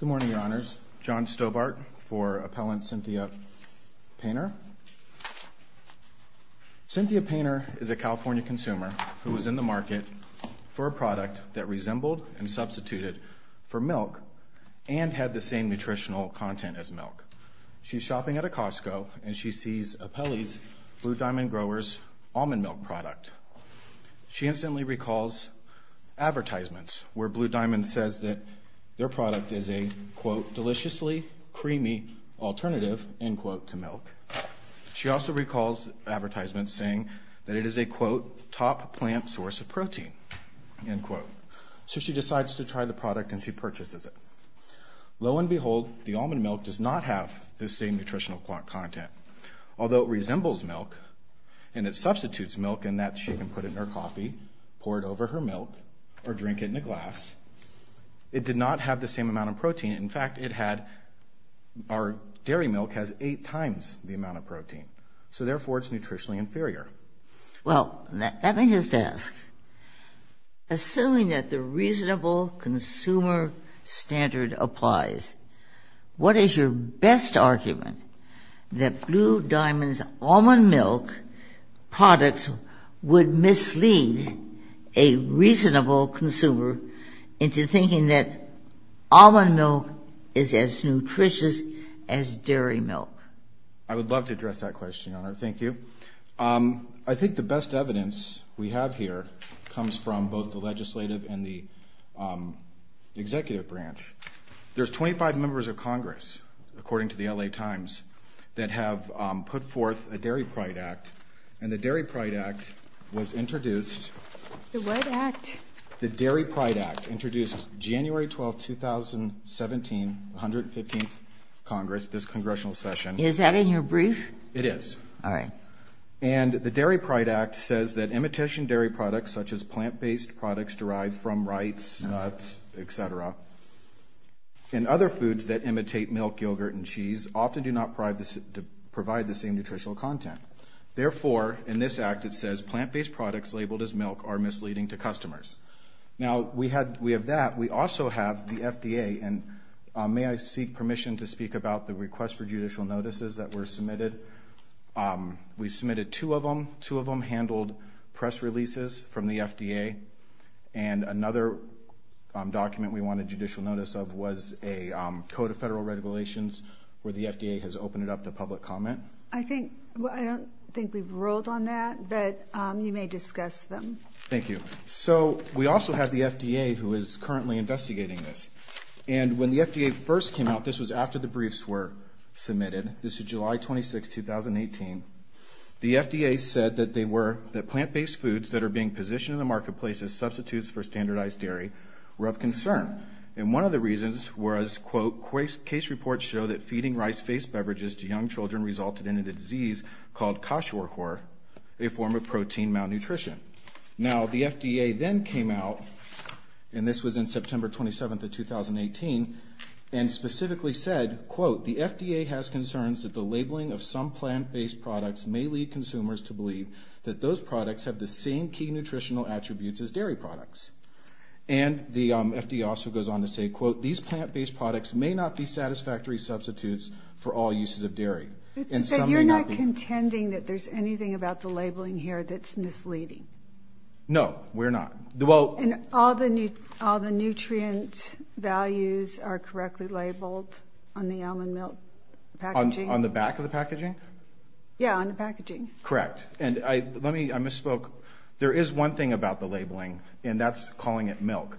Good morning, Your Honors. John Stobart for Appellant Cynthia Painter. Cynthia Painter is a California consumer who was in the market for a product that resembled and substituted for milk and had the same nutritional content as milk. She's shopping at a Costco and she sees Appellee's Blue Diamond Growers almond milk product. She instantly recalls advertisements where Blue Diamond says that their product is a quote, deliciously creamy alternative, end quote, to milk. She also recalls advertisements saying that it is a quote, top plant source of protein, end quote. So she decides to try the product and she purchases it. Lo and behold, the almond milk does not have the same nutritional content. Although it resembles milk and it substitutes milk in that she can put it in her coffee, pour it over her milk, or drink it in a glass, it did not have the same amount of protein. In fact, it had, our dairy milk has eight times the amount of protein. So therefore, it's nutritionally inferior. Well, let me just ask, assuming that the reasonable consumer standard applies, what is your best argument that Blue Diamond's almond milk products would mislead a reasonable consumer into thinking that almond milk is as nutritious as dairy milk? I would love to address that question, Your Honor. Thank you. I think the best evidence we have here comes from both the legislative and the executive branch. There's 25 members of Congress, according to the L.A. Times, that have put forth a Dairy Pride Act, and the Dairy Pride Act was introduced. The what act? The Dairy Pride Act, introduced January 12, 2017, 115th Congress, this congressional session. Is that in your brief? It is. All right. And the Dairy Pride Act says that imitation dairy products, such as plant-based products derived from rice, nuts, et cetera, and other foods that imitate milk, yogurt, and cheese, often do not provide the same nutritional content. Therefore, in this act, it says plant-based products labeled as milk are misleading to customers. Now, we have that. We also have the FDA, and may I seek permission to speak about the request for judicial notices that were submitted? We submitted two of them. Two of them handled press releases from the FDA, and another document we wanted judicial notice of was a Code of Federal Regulations, where the FDA has opened it up to public comment. I don't think we've ruled on that, but you may discuss them. Thank you. So we also have the FDA, who is currently investigating this, and when the FDA first came out, this was after the briefs were submitted. This is July 26, 2018. The FDA said that plant-based foods that are being positioned in the marketplace as substitutes for standardized dairy were of concern, and one of the reasons was, quote, case reports show that feeding rice-based beverages to young children resulted in a disease called Kashiwakor, a form of protein malnutrition. Now, the FDA then came out, and this was in September 27 of 2018, and specifically said, quote, the FDA has concerns that the labeling of some plant-based products may lead consumers to believe that those products have the same key nutritional attributes as dairy products. And the FDA also goes on to say, quote, these plant-based products may not be satisfactory substitutes for all uses of dairy. But you're not contending that there's anything about the labeling here that's misleading? No, we're not. And all the nutrient values are correctly labeled on the almond milk packaging? On the back of the packaging? Yeah, on the packaging. Correct. And I misspoke. There is one thing about the labeling, and that's calling it milk.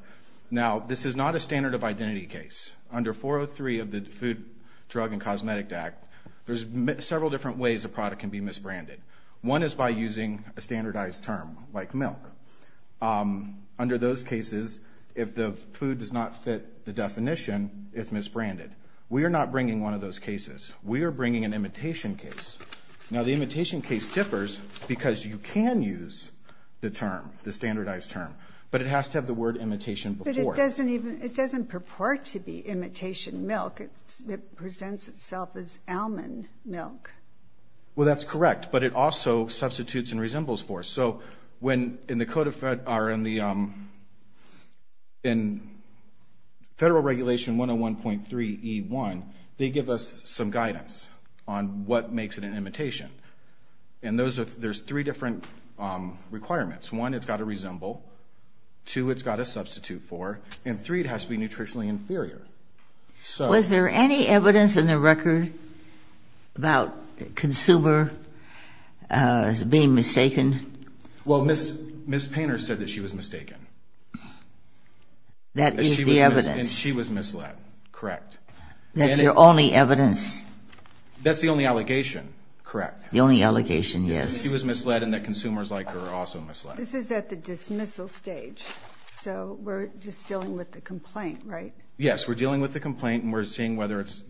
Now, this is not a standard of identity case. Under 403 of the Food, Drug, and Cosmetic Act, there's several different ways a product can be misbranded. One is by using a standardized term like milk. Under those cases, if the food does not fit the definition, it's misbranded. We are not bringing one of those cases. We are bringing an imitation case. Now, the imitation case differs because you can use the term, the standardized term, but it has to have the word imitation before it. But it doesn't purport to be imitation milk. It presents itself as almond milk. Well, that's correct, but it also substitutes and resembles for. So when in the Code of Federal Regulation 101.3E1, they give us some guidance on what makes it an imitation. And there's three different requirements. One, it's got to resemble. Two, it's got to substitute for. And three, it has to be nutritionally inferior. Was there any evidence in the record about consumer being mistaken? Well, Ms. Painter said that she was mistaken. That is the evidence. And she was misled. Correct. That's your only evidence. That's the only allegation. Correct. The only allegation, yes. She was misled and that consumers like her are also misled. This is at the dismissal stage. So we're just dealing with the complaint, right? Yes, we're dealing with the complaint and we're seeing whether it's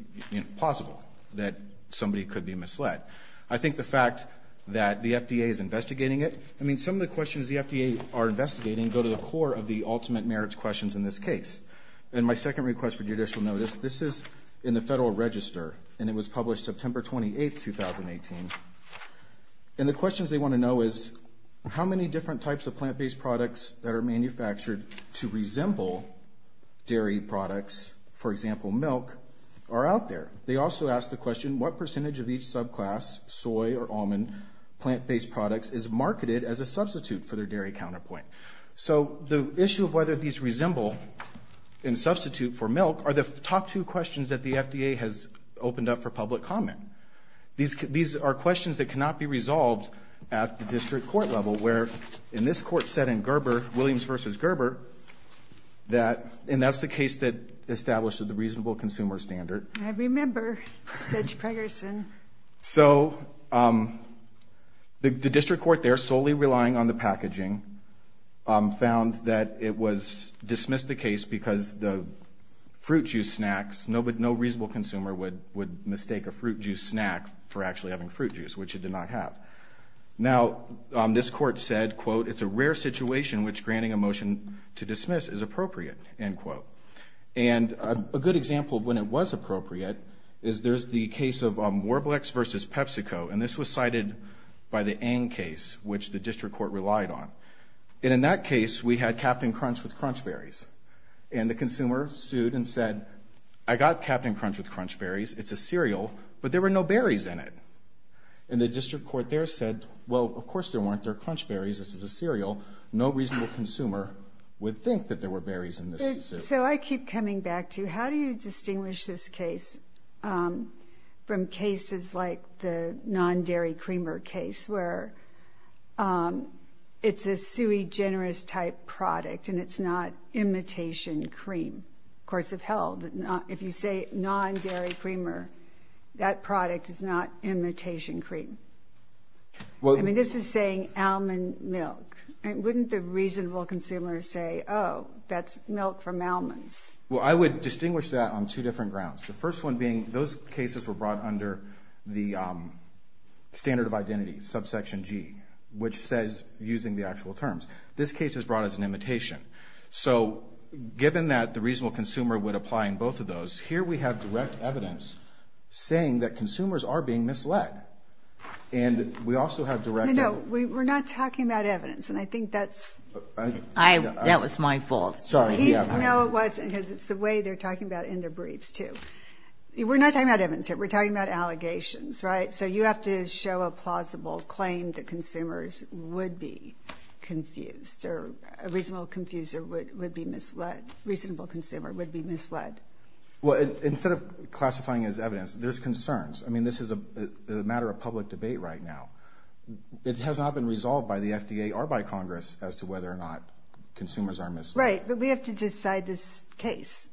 possible that somebody could be misled. I think the fact that the FDA is investigating it, I mean some of the questions the FDA are investigating go to the core of the ultimate merits questions in this case. And my second request for judicial notice, this is in the Federal Register and it was published September 28, 2018. And the questions they want to know is, how many different types of plant-based products that are manufactured to resemble dairy products, for example, milk, are out there? They also ask the question, what percentage of each subclass, soy or almond plant-based products, is marketed as a substitute for their dairy counterpoint? So the issue of whether these resemble in substitute for milk are the top two questions that the FDA has opened up for public comment. These are questions that cannot be resolved at the district court level where in this court set in Gerber, Williams v. Gerber, and that's the case that established the reasonable consumer standard. I remember Judge Pegerson. So the district court there, solely relying on the packaging, found that it was dismissed the case because the fruit juice snacks, no reasonable consumer would mistake a fruit juice snack for actually having fruit juice, which it did not have. Now, this court said, quote, it's a rare situation which granting a motion to dismiss is appropriate, end quote. And a good example of when it was appropriate is there's the case of Warblex v. PepsiCo, and this was cited by the Ang case, which the district court relied on. And in that case, we had Captain Crunch with Crunch Berries. And the consumer sued and said, I got Captain Crunch with Crunch Berries. It's a cereal, but there were no berries in it. And the district court there said, well, of course there weren't. They're Crunch Berries. This is a cereal. No reasonable consumer would think that there were berries in this. So I keep coming back to how do you distinguish this case from cases like the non-dairy creamer case where it's a sui generis type product and it's not imitation cream? Courts have held that if you say non-dairy creamer, then that product is not imitation cream. I mean, this is saying almond milk. Wouldn't the reasonable consumer say, oh, that's milk from almonds? Well, I would distinguish that on two different grounds, the first one being those cases were brought under the standard of identity, subsection G, which says using the actual terms. This case is brought as an imitation. So given that the reasonable consumer would apply in both of those, here we have direct evidence saying that consumers are being misled. And we also have direct evidence. No, we're not talking about evidence, and I think that's... That was my fault. No, it wasn't, because it's the way they're talking about it in their briefs, too. We're not talking about evidence here. We're talking about allegations, right? So you have to show a plausible claim that consumers would be confused or a reasonable consumer would be misled. Well, instead of classifying as evidence, there's concerns. I mean, this is a matter of public debate right now. It has not been resolved by the FDA or by Congress as to whether or not consumers are misled. Right, but we have to decide this case,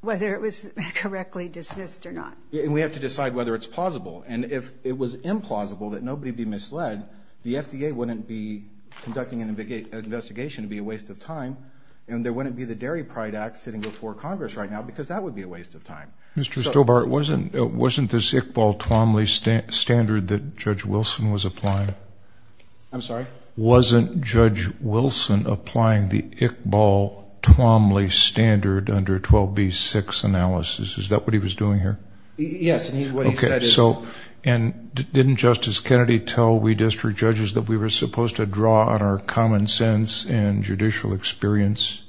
whether it was correctly dismissed or not. And we have to decide whether it's plausible. And if it was implausible that nobody be misled, the FDA wouldn't be conducting an investigation. It would be a waste of time. And there wouldn't be the Dairy Pride Act sitting before Congress right now because that would be a waste of time. Mr. Stobart, wasn't this Iqbal-Tuamli standard that Judge Wilson was applying? I'm sorry? Wasn't Judge Wilson applying the Iqbal-Tuamli standard under 12b-6 analysis? Is that what he was doing here? Yes, and what he said is... And didn't Justice Kennedy tell we district judges that we were supposed to draw on our common sense and judicial experience?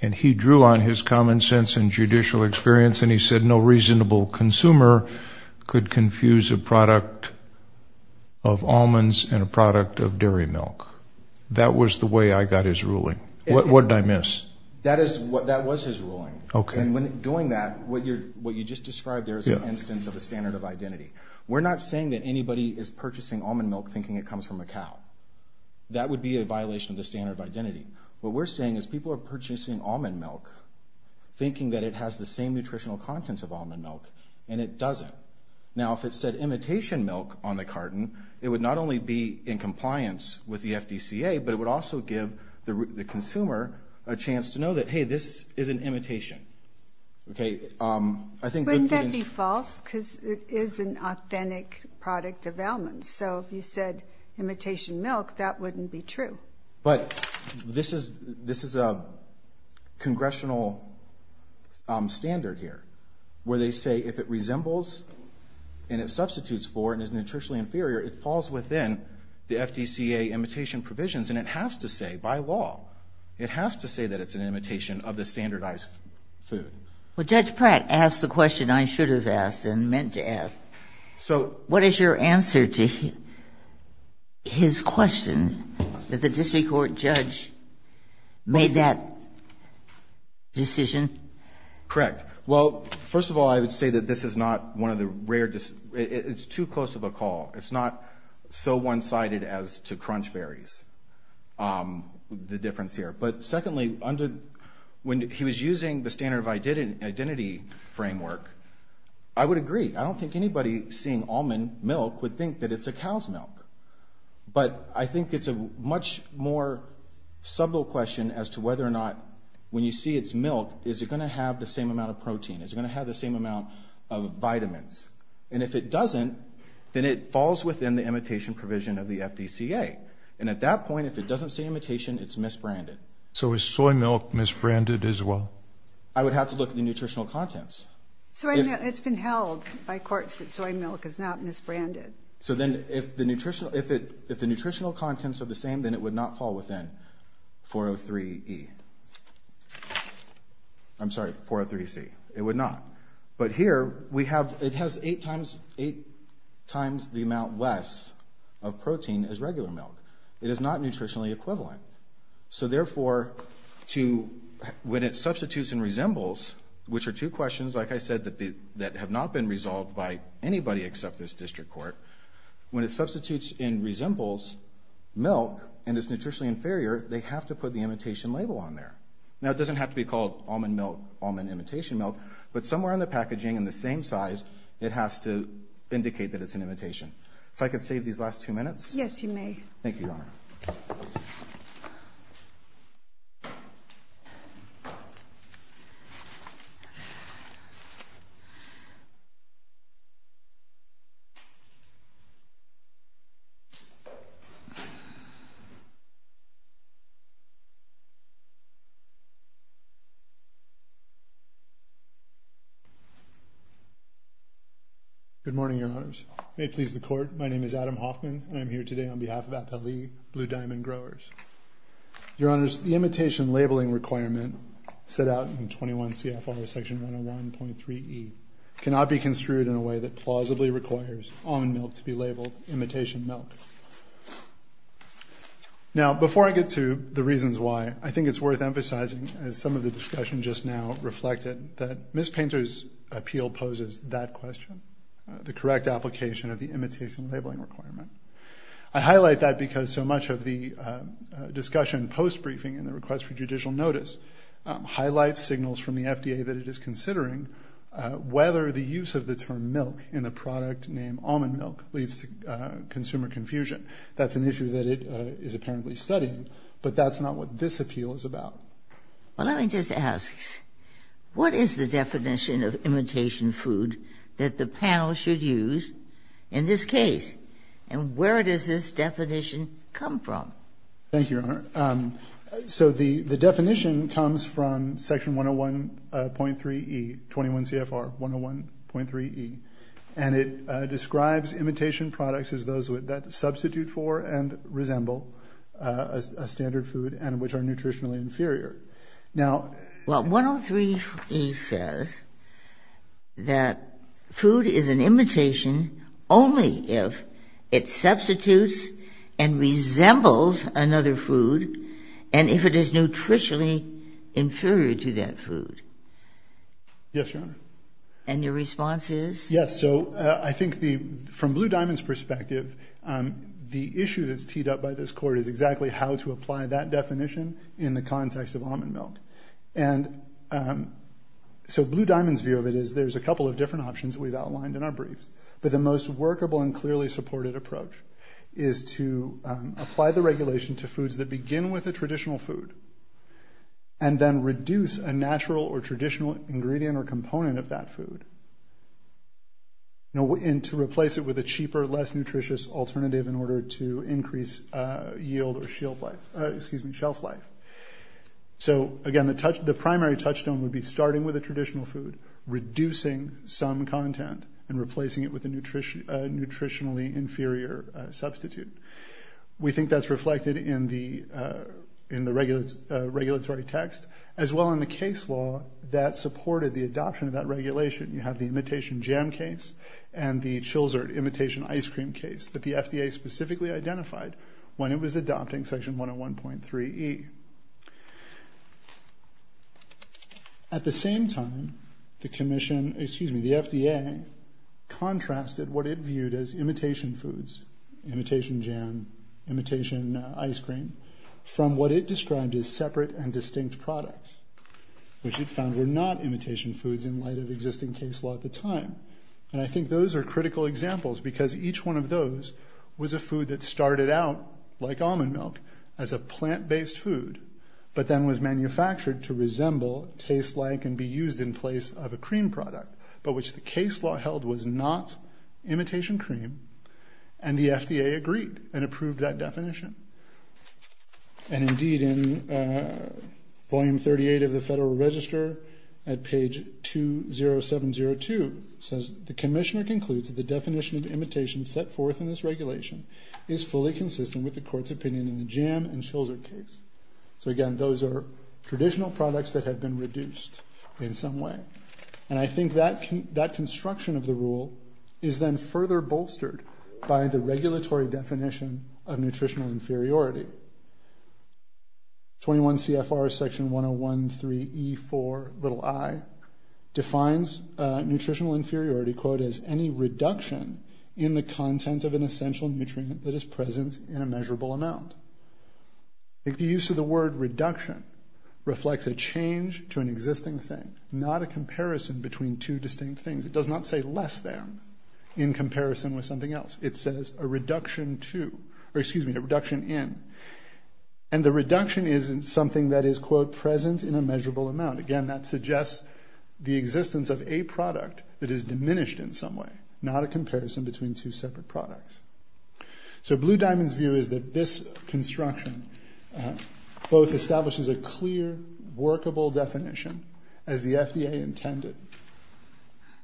And he drew on his common sense and judicial experience, and he said no reasonable consumer could confuse a product of almonds and a product of dairy milk. That was the way I got his ruling. What did I miss? That was his ruling. And when doing that, what you just described there is an instance of a standard of identity. We're not saying that anybody is purchasing almond milk thinking it comes from a cow. That would be a violation of the standard of identity. What we're saying is people are purchasing almond milk thinking that it has the same nutritional contents of almond milk, and it doesn't. Now, if it said imitation milk on the carton, it would not only be in compliance with the FDCA, but it would also give the consumer a chance to know that, hey, this is an imitation. Wouldn't that be false? Because it is an authentic product of almonds. So if you said imitation milk, that wouldn't be true. But this is a congressional standard here where they say if it resembles and it substitutes for and is nutritionally inferior, it falls within the FDCA imitation provisions, and it has to say, by law, it has to say that it's an imitation of the standardized food. Well, Judge Pratt asked the question I should have asked and meant to ask. What is your answer to his question, that the district court judge made that decision? Correct. Well, first of all, I would say that this is not one of the rare – it's too close of a call. It's not so one-sided as to Crunch Berries, the difference here. But secondly, when he was using the standard of identity framework, I would agree. I don't think anybody seeing almond milk would think that it's a cow's milk. But I think it's a much more subtle question as to whether or not when you see its milk, is it going to have the same amount of protein? Is it going to have the same amount of vitamins? And if it doesn't, then it falls within the imitation provision of the FDCA. And at that point, if it doesn't say imitation, it's misbranded. So is soy milk misbranded as well? I would have to look at the nutritional contents. It's been held by courts that soy milk is not misbranded. So then if the nutritional contents are the same, then it would not fall within 403E. I'm sorry, 403C. It would not. But here, it has eight times the amount less of protein as regular milk. It is not nutritionally equivalent. So therefore, when it substitutes and resembles, which are two questions, like I said, that have not been resolved by anybody except this district court, when it substitutes and resembles milk, and it's nutritionally inferior, they have to put the imitation label on there. Now, it doesn't have to be called almond milk, almond imitation milk, but somewhere in the packaging in the same size, it has to indicate that it's an imitation. If I could save these last two minutes. Yes, you may. Thank you, Your Honor. Good morning, Your Honors. May it please the court, my name is Adam Hoffman, and I'm here today on behalf of Appellee Blue Diamond Growers. Your Honors, the imitation labeling requirement set out in 21 CFR Section 101.3E cannot be construed in a way that plausibly requires almond milk to be labeled imitation milk. Now, before I get to the reasons why, I think it's worth emphasizing, as some of the discussion just now reflected, that Ms. Painter's appeal poses that question, the correct application of the imitation labeling requirement. I highlight that because so much of the discussion post-briefing in the request for judicial notice highlights signals from the FDA that it is considering whether the use of the term milk in the product named almond milk leads to consumer confusion. That's an issue that it is apparently studying, but that's not what this appeal is about. Well, let me just ask, what is the definition of imitation food that the panel should use in this case, and where does this definition come from? Thank you, Your Honor. So the definition comes from Section 101.3E, 21 CFR 101.3E, and it describes imitation products as those that substitute for and resemble a standard food and which are nutritionally inferior. Well, 103E says that food is an imitation only if it substitutes and resembles another food and if it is nutritionally inferior to that food. Yes, Your Honor. And your response is? Yes, so I think from Blue Diamond's perspective, the issue that's teed up by this Court is exactly how to apply that definition in the context of almond milk. And so Blue Diamond's view of it is there's a couple of different options we've outlined in our briefs, but the most workable and clearly supported approach is to apply the regulation to foods that begin with a traditional food and then reduce a natural or traditional ingredient or component of that food and to replace it with a cheaper, less nutritious alternative in order to increase yield or shelf life. So again, the primary touchstone would be starting with a traditional food, reducing some content, and replacing it with a nutritionally inferior substitute. We think that's reflected in the regulatory text as well in the case law that supported the adoption of that regulation. You have the imitation jam case and the Chilsert imitation ice cream case that the FDA specifically identified when it was adopting Section 101.3E. At the same time, the FDA contrasted what it viewed as imitation foods, imitation jam, imitation ice cream, from what it described as separate and distinct products, which it found were not imitation foods in light of existing case law at the time. And I think those are critical examples because each one of those was a food that started out like almond milk, as a plant-based food, but then was manufactured to resemble, taste like, and be used in place of a cream product, but which the case law held was not imitation cream, and the FDA agreed and approved that definition. And indeed, in Volume 38 of the Federal Register, at page 20702, it says, The Commissioner concludes that the definition of imitation set forth in this regulation is fully consistent with the Court's opinion in the jam and Chilsert case. So again, those are traditional products that have been reduced in some way. And I think that construction of the rule is then further bolstered by the regulatory definition of nutritional inferiority. 21 CFR Section 1013E4, little i, defines nutritional inferiority, quote, as any reduction in the content of an essential nutrient that is present in a measurable amount. The use of the word reduction reflects a change to an existing thing, not a comparison between two distinct things. It does not say less than in comparison with something else. It says a reduction to, or excuse me, a reduction in. And the reduction is something that is, quote, present in a measurable amount. Again, that suggests the existence of a product that is diminished in some way, not a comparison between two separate products. So Blue Diamond's view is that this construction both establishes a clear, workable definition, as the FDA intended,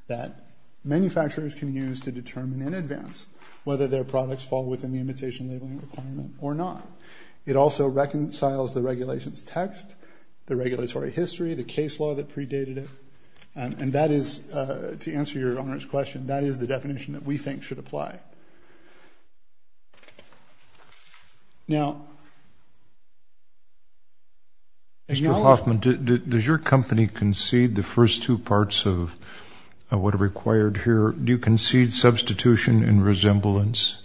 that manufacturers can use to determine in advance whether their products fall within the imitation labeling requirement or not. It also reconciles the regulation's text, the regulatory history, the case law that predated it. And that is, to answer Your Honor's question, that is the definition that we think should apply. Now, Mr. Hoffman, does your company concede the first two parts of what are required here? Do you concede substitution and resemblance?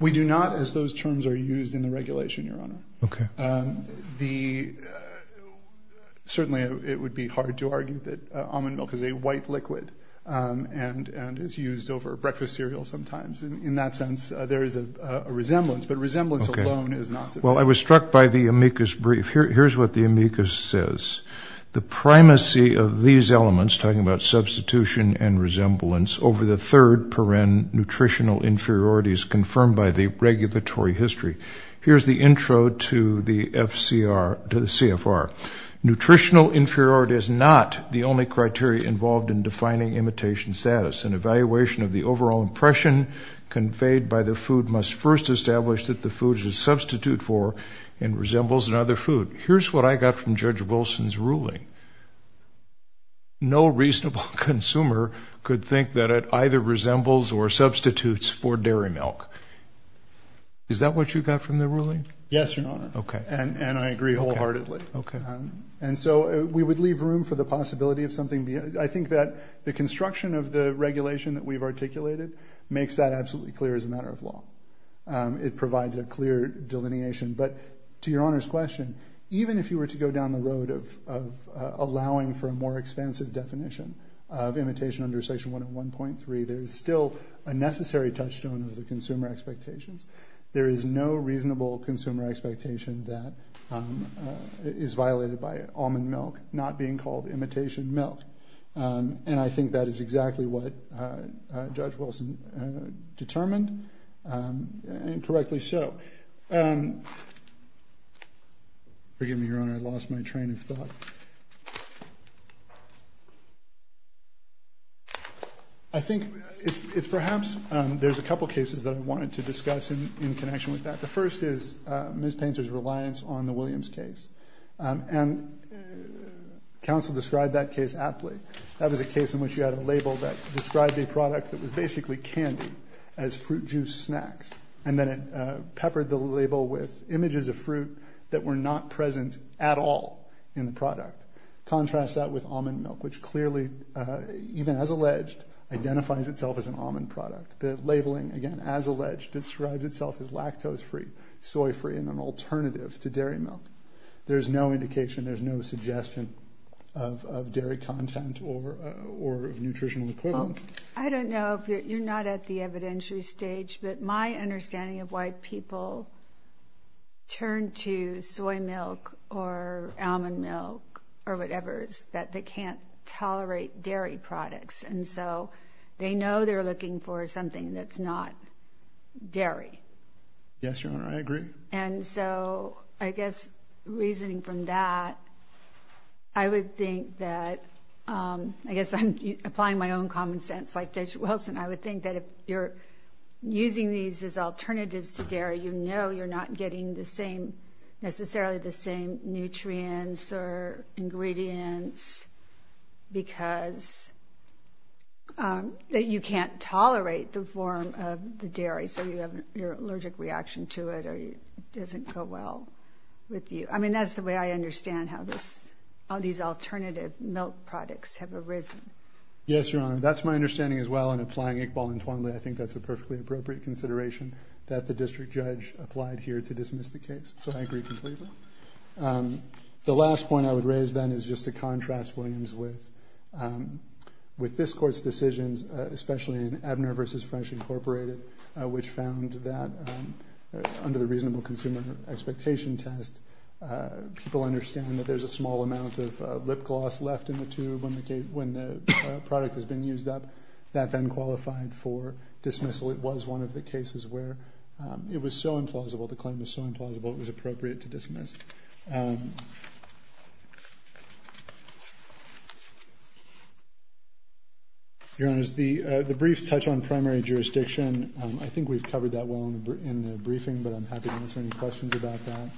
We do not, as those terms are used in the regulation, Your Honor. Okay. Certainly, it would be hard to argue that almond milk is a white liquid and is used over breakfast cereal sometimes. In that sense, there is a resemblance, but resemblance alone is not sufficient. Well, I was struck by the amicus brief. Here's what the amicus says. The primacy of these elements, talking about substitution and resemblance, over the third paren, nutritional inferiority, is confirmed by the regulatory history. Here's the intro to the CFR. Nutritional inferiority is not the only criteria involved in defining imitation status. An evaluation of the overall impression conveyed by the food must first establish that the food is a substitute for and resembles another food. Here's what I got from Judge Wilson's ruling. No reasonable consumer could think that it either resembles or substitutes for dairy milk. Is that what you got from the ruling? Yes, Your Honor. Okay. And I agree wholeheartedly. Okay. And so we would leave room for the possibility of something. I think that the construction of the regulation that we've articulated makes that absolutely clear as a matter of law. It provides a clear delineation. But to Your Honor's question, even if you were to go down the road of allowing for a more expansive definition of imitation under Section 101.3, there is still a necessary touchstone of the consumer expectations. There is no reasonable consumer expectation that is violated by almond milk not being called imitation milk. And I think that is exactly what Judge Wilson determined and correctly so. Forgive me, Your Honor. I lost my train of thought. I think it's perhaps there's a couple cases that I wanted to discuss in connection with that. The first is Ms. Painter's reliance on the Williams case. And counsel described that case aptly. That was a case in which you had a label that described a product that was basically candy as fruit juice snacks. And then it peppered the label with images of fruit that were not present at all in the product. Contrast that with almond milk, which clearly, even as alleged, identifies itself as an almond product. The labeling, again, as alleged, describes itself as lactose-free, soy-free, and an alternative to dairy milk. There's no indication, there's no suggestion of dairy content or of nutritional equivalent. I don't know. You're not at the evidentiary stage. But my understanding of why people turn to soy milk or almond milk or whatever is that they can't tolerate dairy products. And so they know they're looking for something that's not dairy. Yes, Your Honor, I agree. And so I guess reasoning from that, I would think that, I guess I'm applying my own common sense like Judge Wilson, I would think that if you're using these as alternatives to dairy, you know you're not getting necessarily the same nutrients or ingredients because that you can't tolerate the form of the dairy, so you have your allergic reaction to it or it doesn't go well with you. I mean, that's the way I understand how these alternative milk products have arisen. Yes, Your Honor, that's my understanding as well. And applying Iqbal and Twanley, I think that's a perfectly appropriate consideration that the district judge applied here to dismiss the case. So I agree completely. The last point I would raise then is just to contrast Williams with this court's decisions, especially in Ebner v. Fresh, Inc., which found that under the reasonable consumer expectation test, people understand that there's a small amount of lip gloss left in the tube when the product has been used up. That then qualified for dismissal. It was one of the cases where it was so implausible, the claim was so implausible, it was appropriate to dismiss. Your Honors, the briefs touch on primary jurisdiction. I think we've covered that well in the briefing, but I'm happy to answer any questions about that.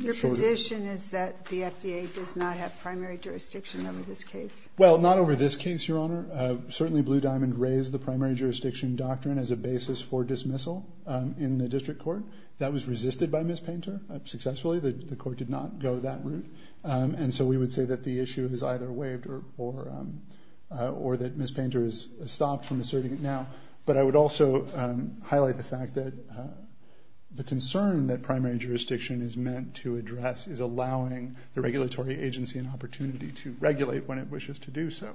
Your position is that the FDA does not have primary jurisdiction over this case? Well, not over this case, Your Honor. Certainly Blue Diamond raised the primary jurisdiction doctrine as a basis for dismissal in the district court. That was resisted by Ms. Painter successfully. The court did not go that route. And so we would say that the issue is either waived or that Ms. Painter has stopped from asserting it now. But I would also highlight the fact that the concern that primary jurisdiction is meant to address is allowing the regulatory agency an opportunity to regulate when it wishes to do so.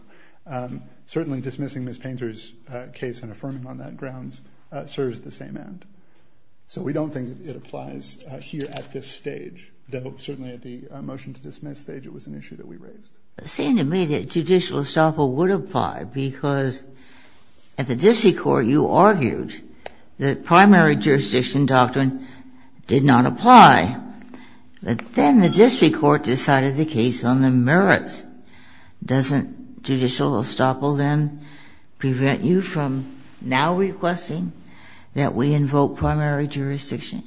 Certainly dismissing Ms. Painter's case and affirming on that grounds serves the same end. So we don't think it applies here at this stage. Though certainly at the motion to dismiss stage, it was an issue that we raised. It seemed to me that judicial estoppel would apply because at the district court you argued that primary jurisdiction doctrine did not apply. But then the district court decided the case on the merits. Doesn't judicial estoppel then prevent you from now requesting that we invoke primary jurisdiction?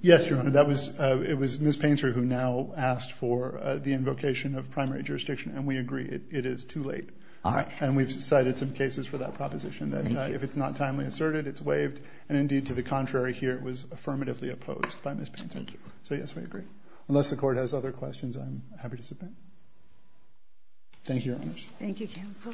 Yes, Your Honor. It was Ms. Painter who now asked for the invocation of primary jurisdiction, and we agree it is too late. And we've cited some cases for that proposition that if it's not timely asserted, it's waived. And indeed, to the contrary here, it was affirmatively opposed by Ms. Painter. So, yes, we agree. Unless the court has other questions, I'm happy to submit. Thank you, Your Honors. Thank you, Counsel.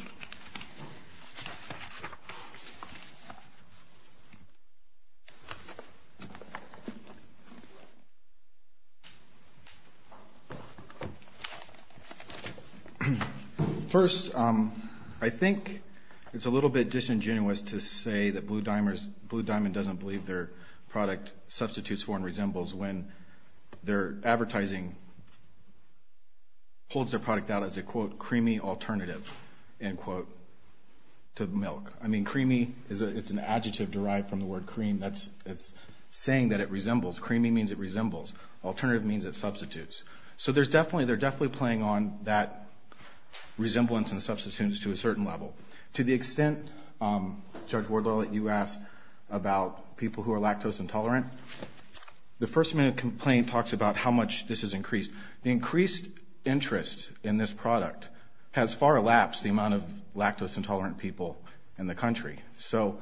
First, I think it's a little bit disingenuous to say that Blue Diamond doesn't believe their product substitutes for and resembles when their advertising holds their product out as a, quote, creamy alternative, end quote, to milk. I mean, creamy, it's an adjective derived from the word cream. It's saying that it resembles. Creamy means it resembles. Alternative means it substitutes. So they're definitely playing on that resemblance and substitutes to a certain level. To the extent, Judge Wardlaw, that you asked about people who are lactose intolerant, the first-minute complaint talks about how much this has increased. The increased interest in this product has far elapsed the amount of lactose intolerant people in the country. So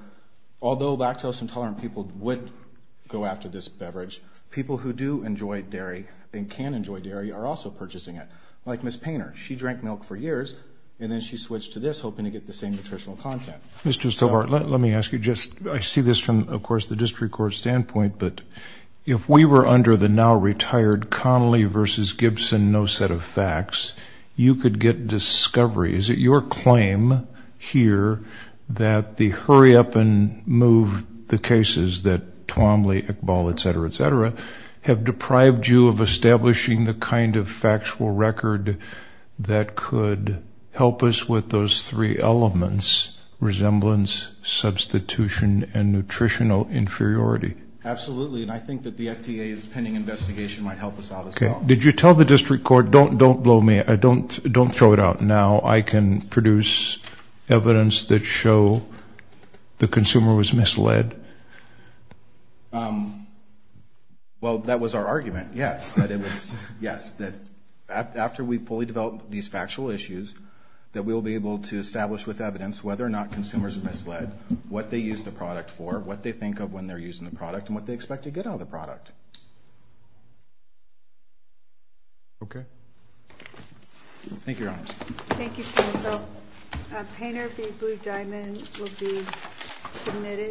although lactose intolerant people would go after this beverage, people who do enjoy dairy and can enjoy dairy are also purchasing it. Like Ms. Painter. She drank milk for years, and then she switched to this, hoping to get the same nutritional content. Mr. Stobart, let me ask you just, I see this from, of course, the district court standpoint, but if we were under the now-retired Connolly v. Gibson no set of facts, you could get discovery. Is it your claim here that the hurry-up-and-move cases that Twombly, Iqbal, et cetera, et cetera, have deprived you of establishing the kind of factual record that could help us with those three elements, resemblance, substitution, and nutritional inferiority? Absolutely, and I think that the FDA's pending investigation might help us out as well. Did you tell the district court, don't blow me, don't throw it out now, I can produce evidence that show the consumer was misled? Well, that was our argument, yes. But it was, yes, that after we fully develop these factual issues, that we'll be able to establish with evidence whether or not consumers are misled, what they use the product for, what they think of when they're using the product, and what they expect to get out of the product. Okay. Thank you, Your Honor. Thank you, counsel. Painter v. Blue Diamond will be submitted.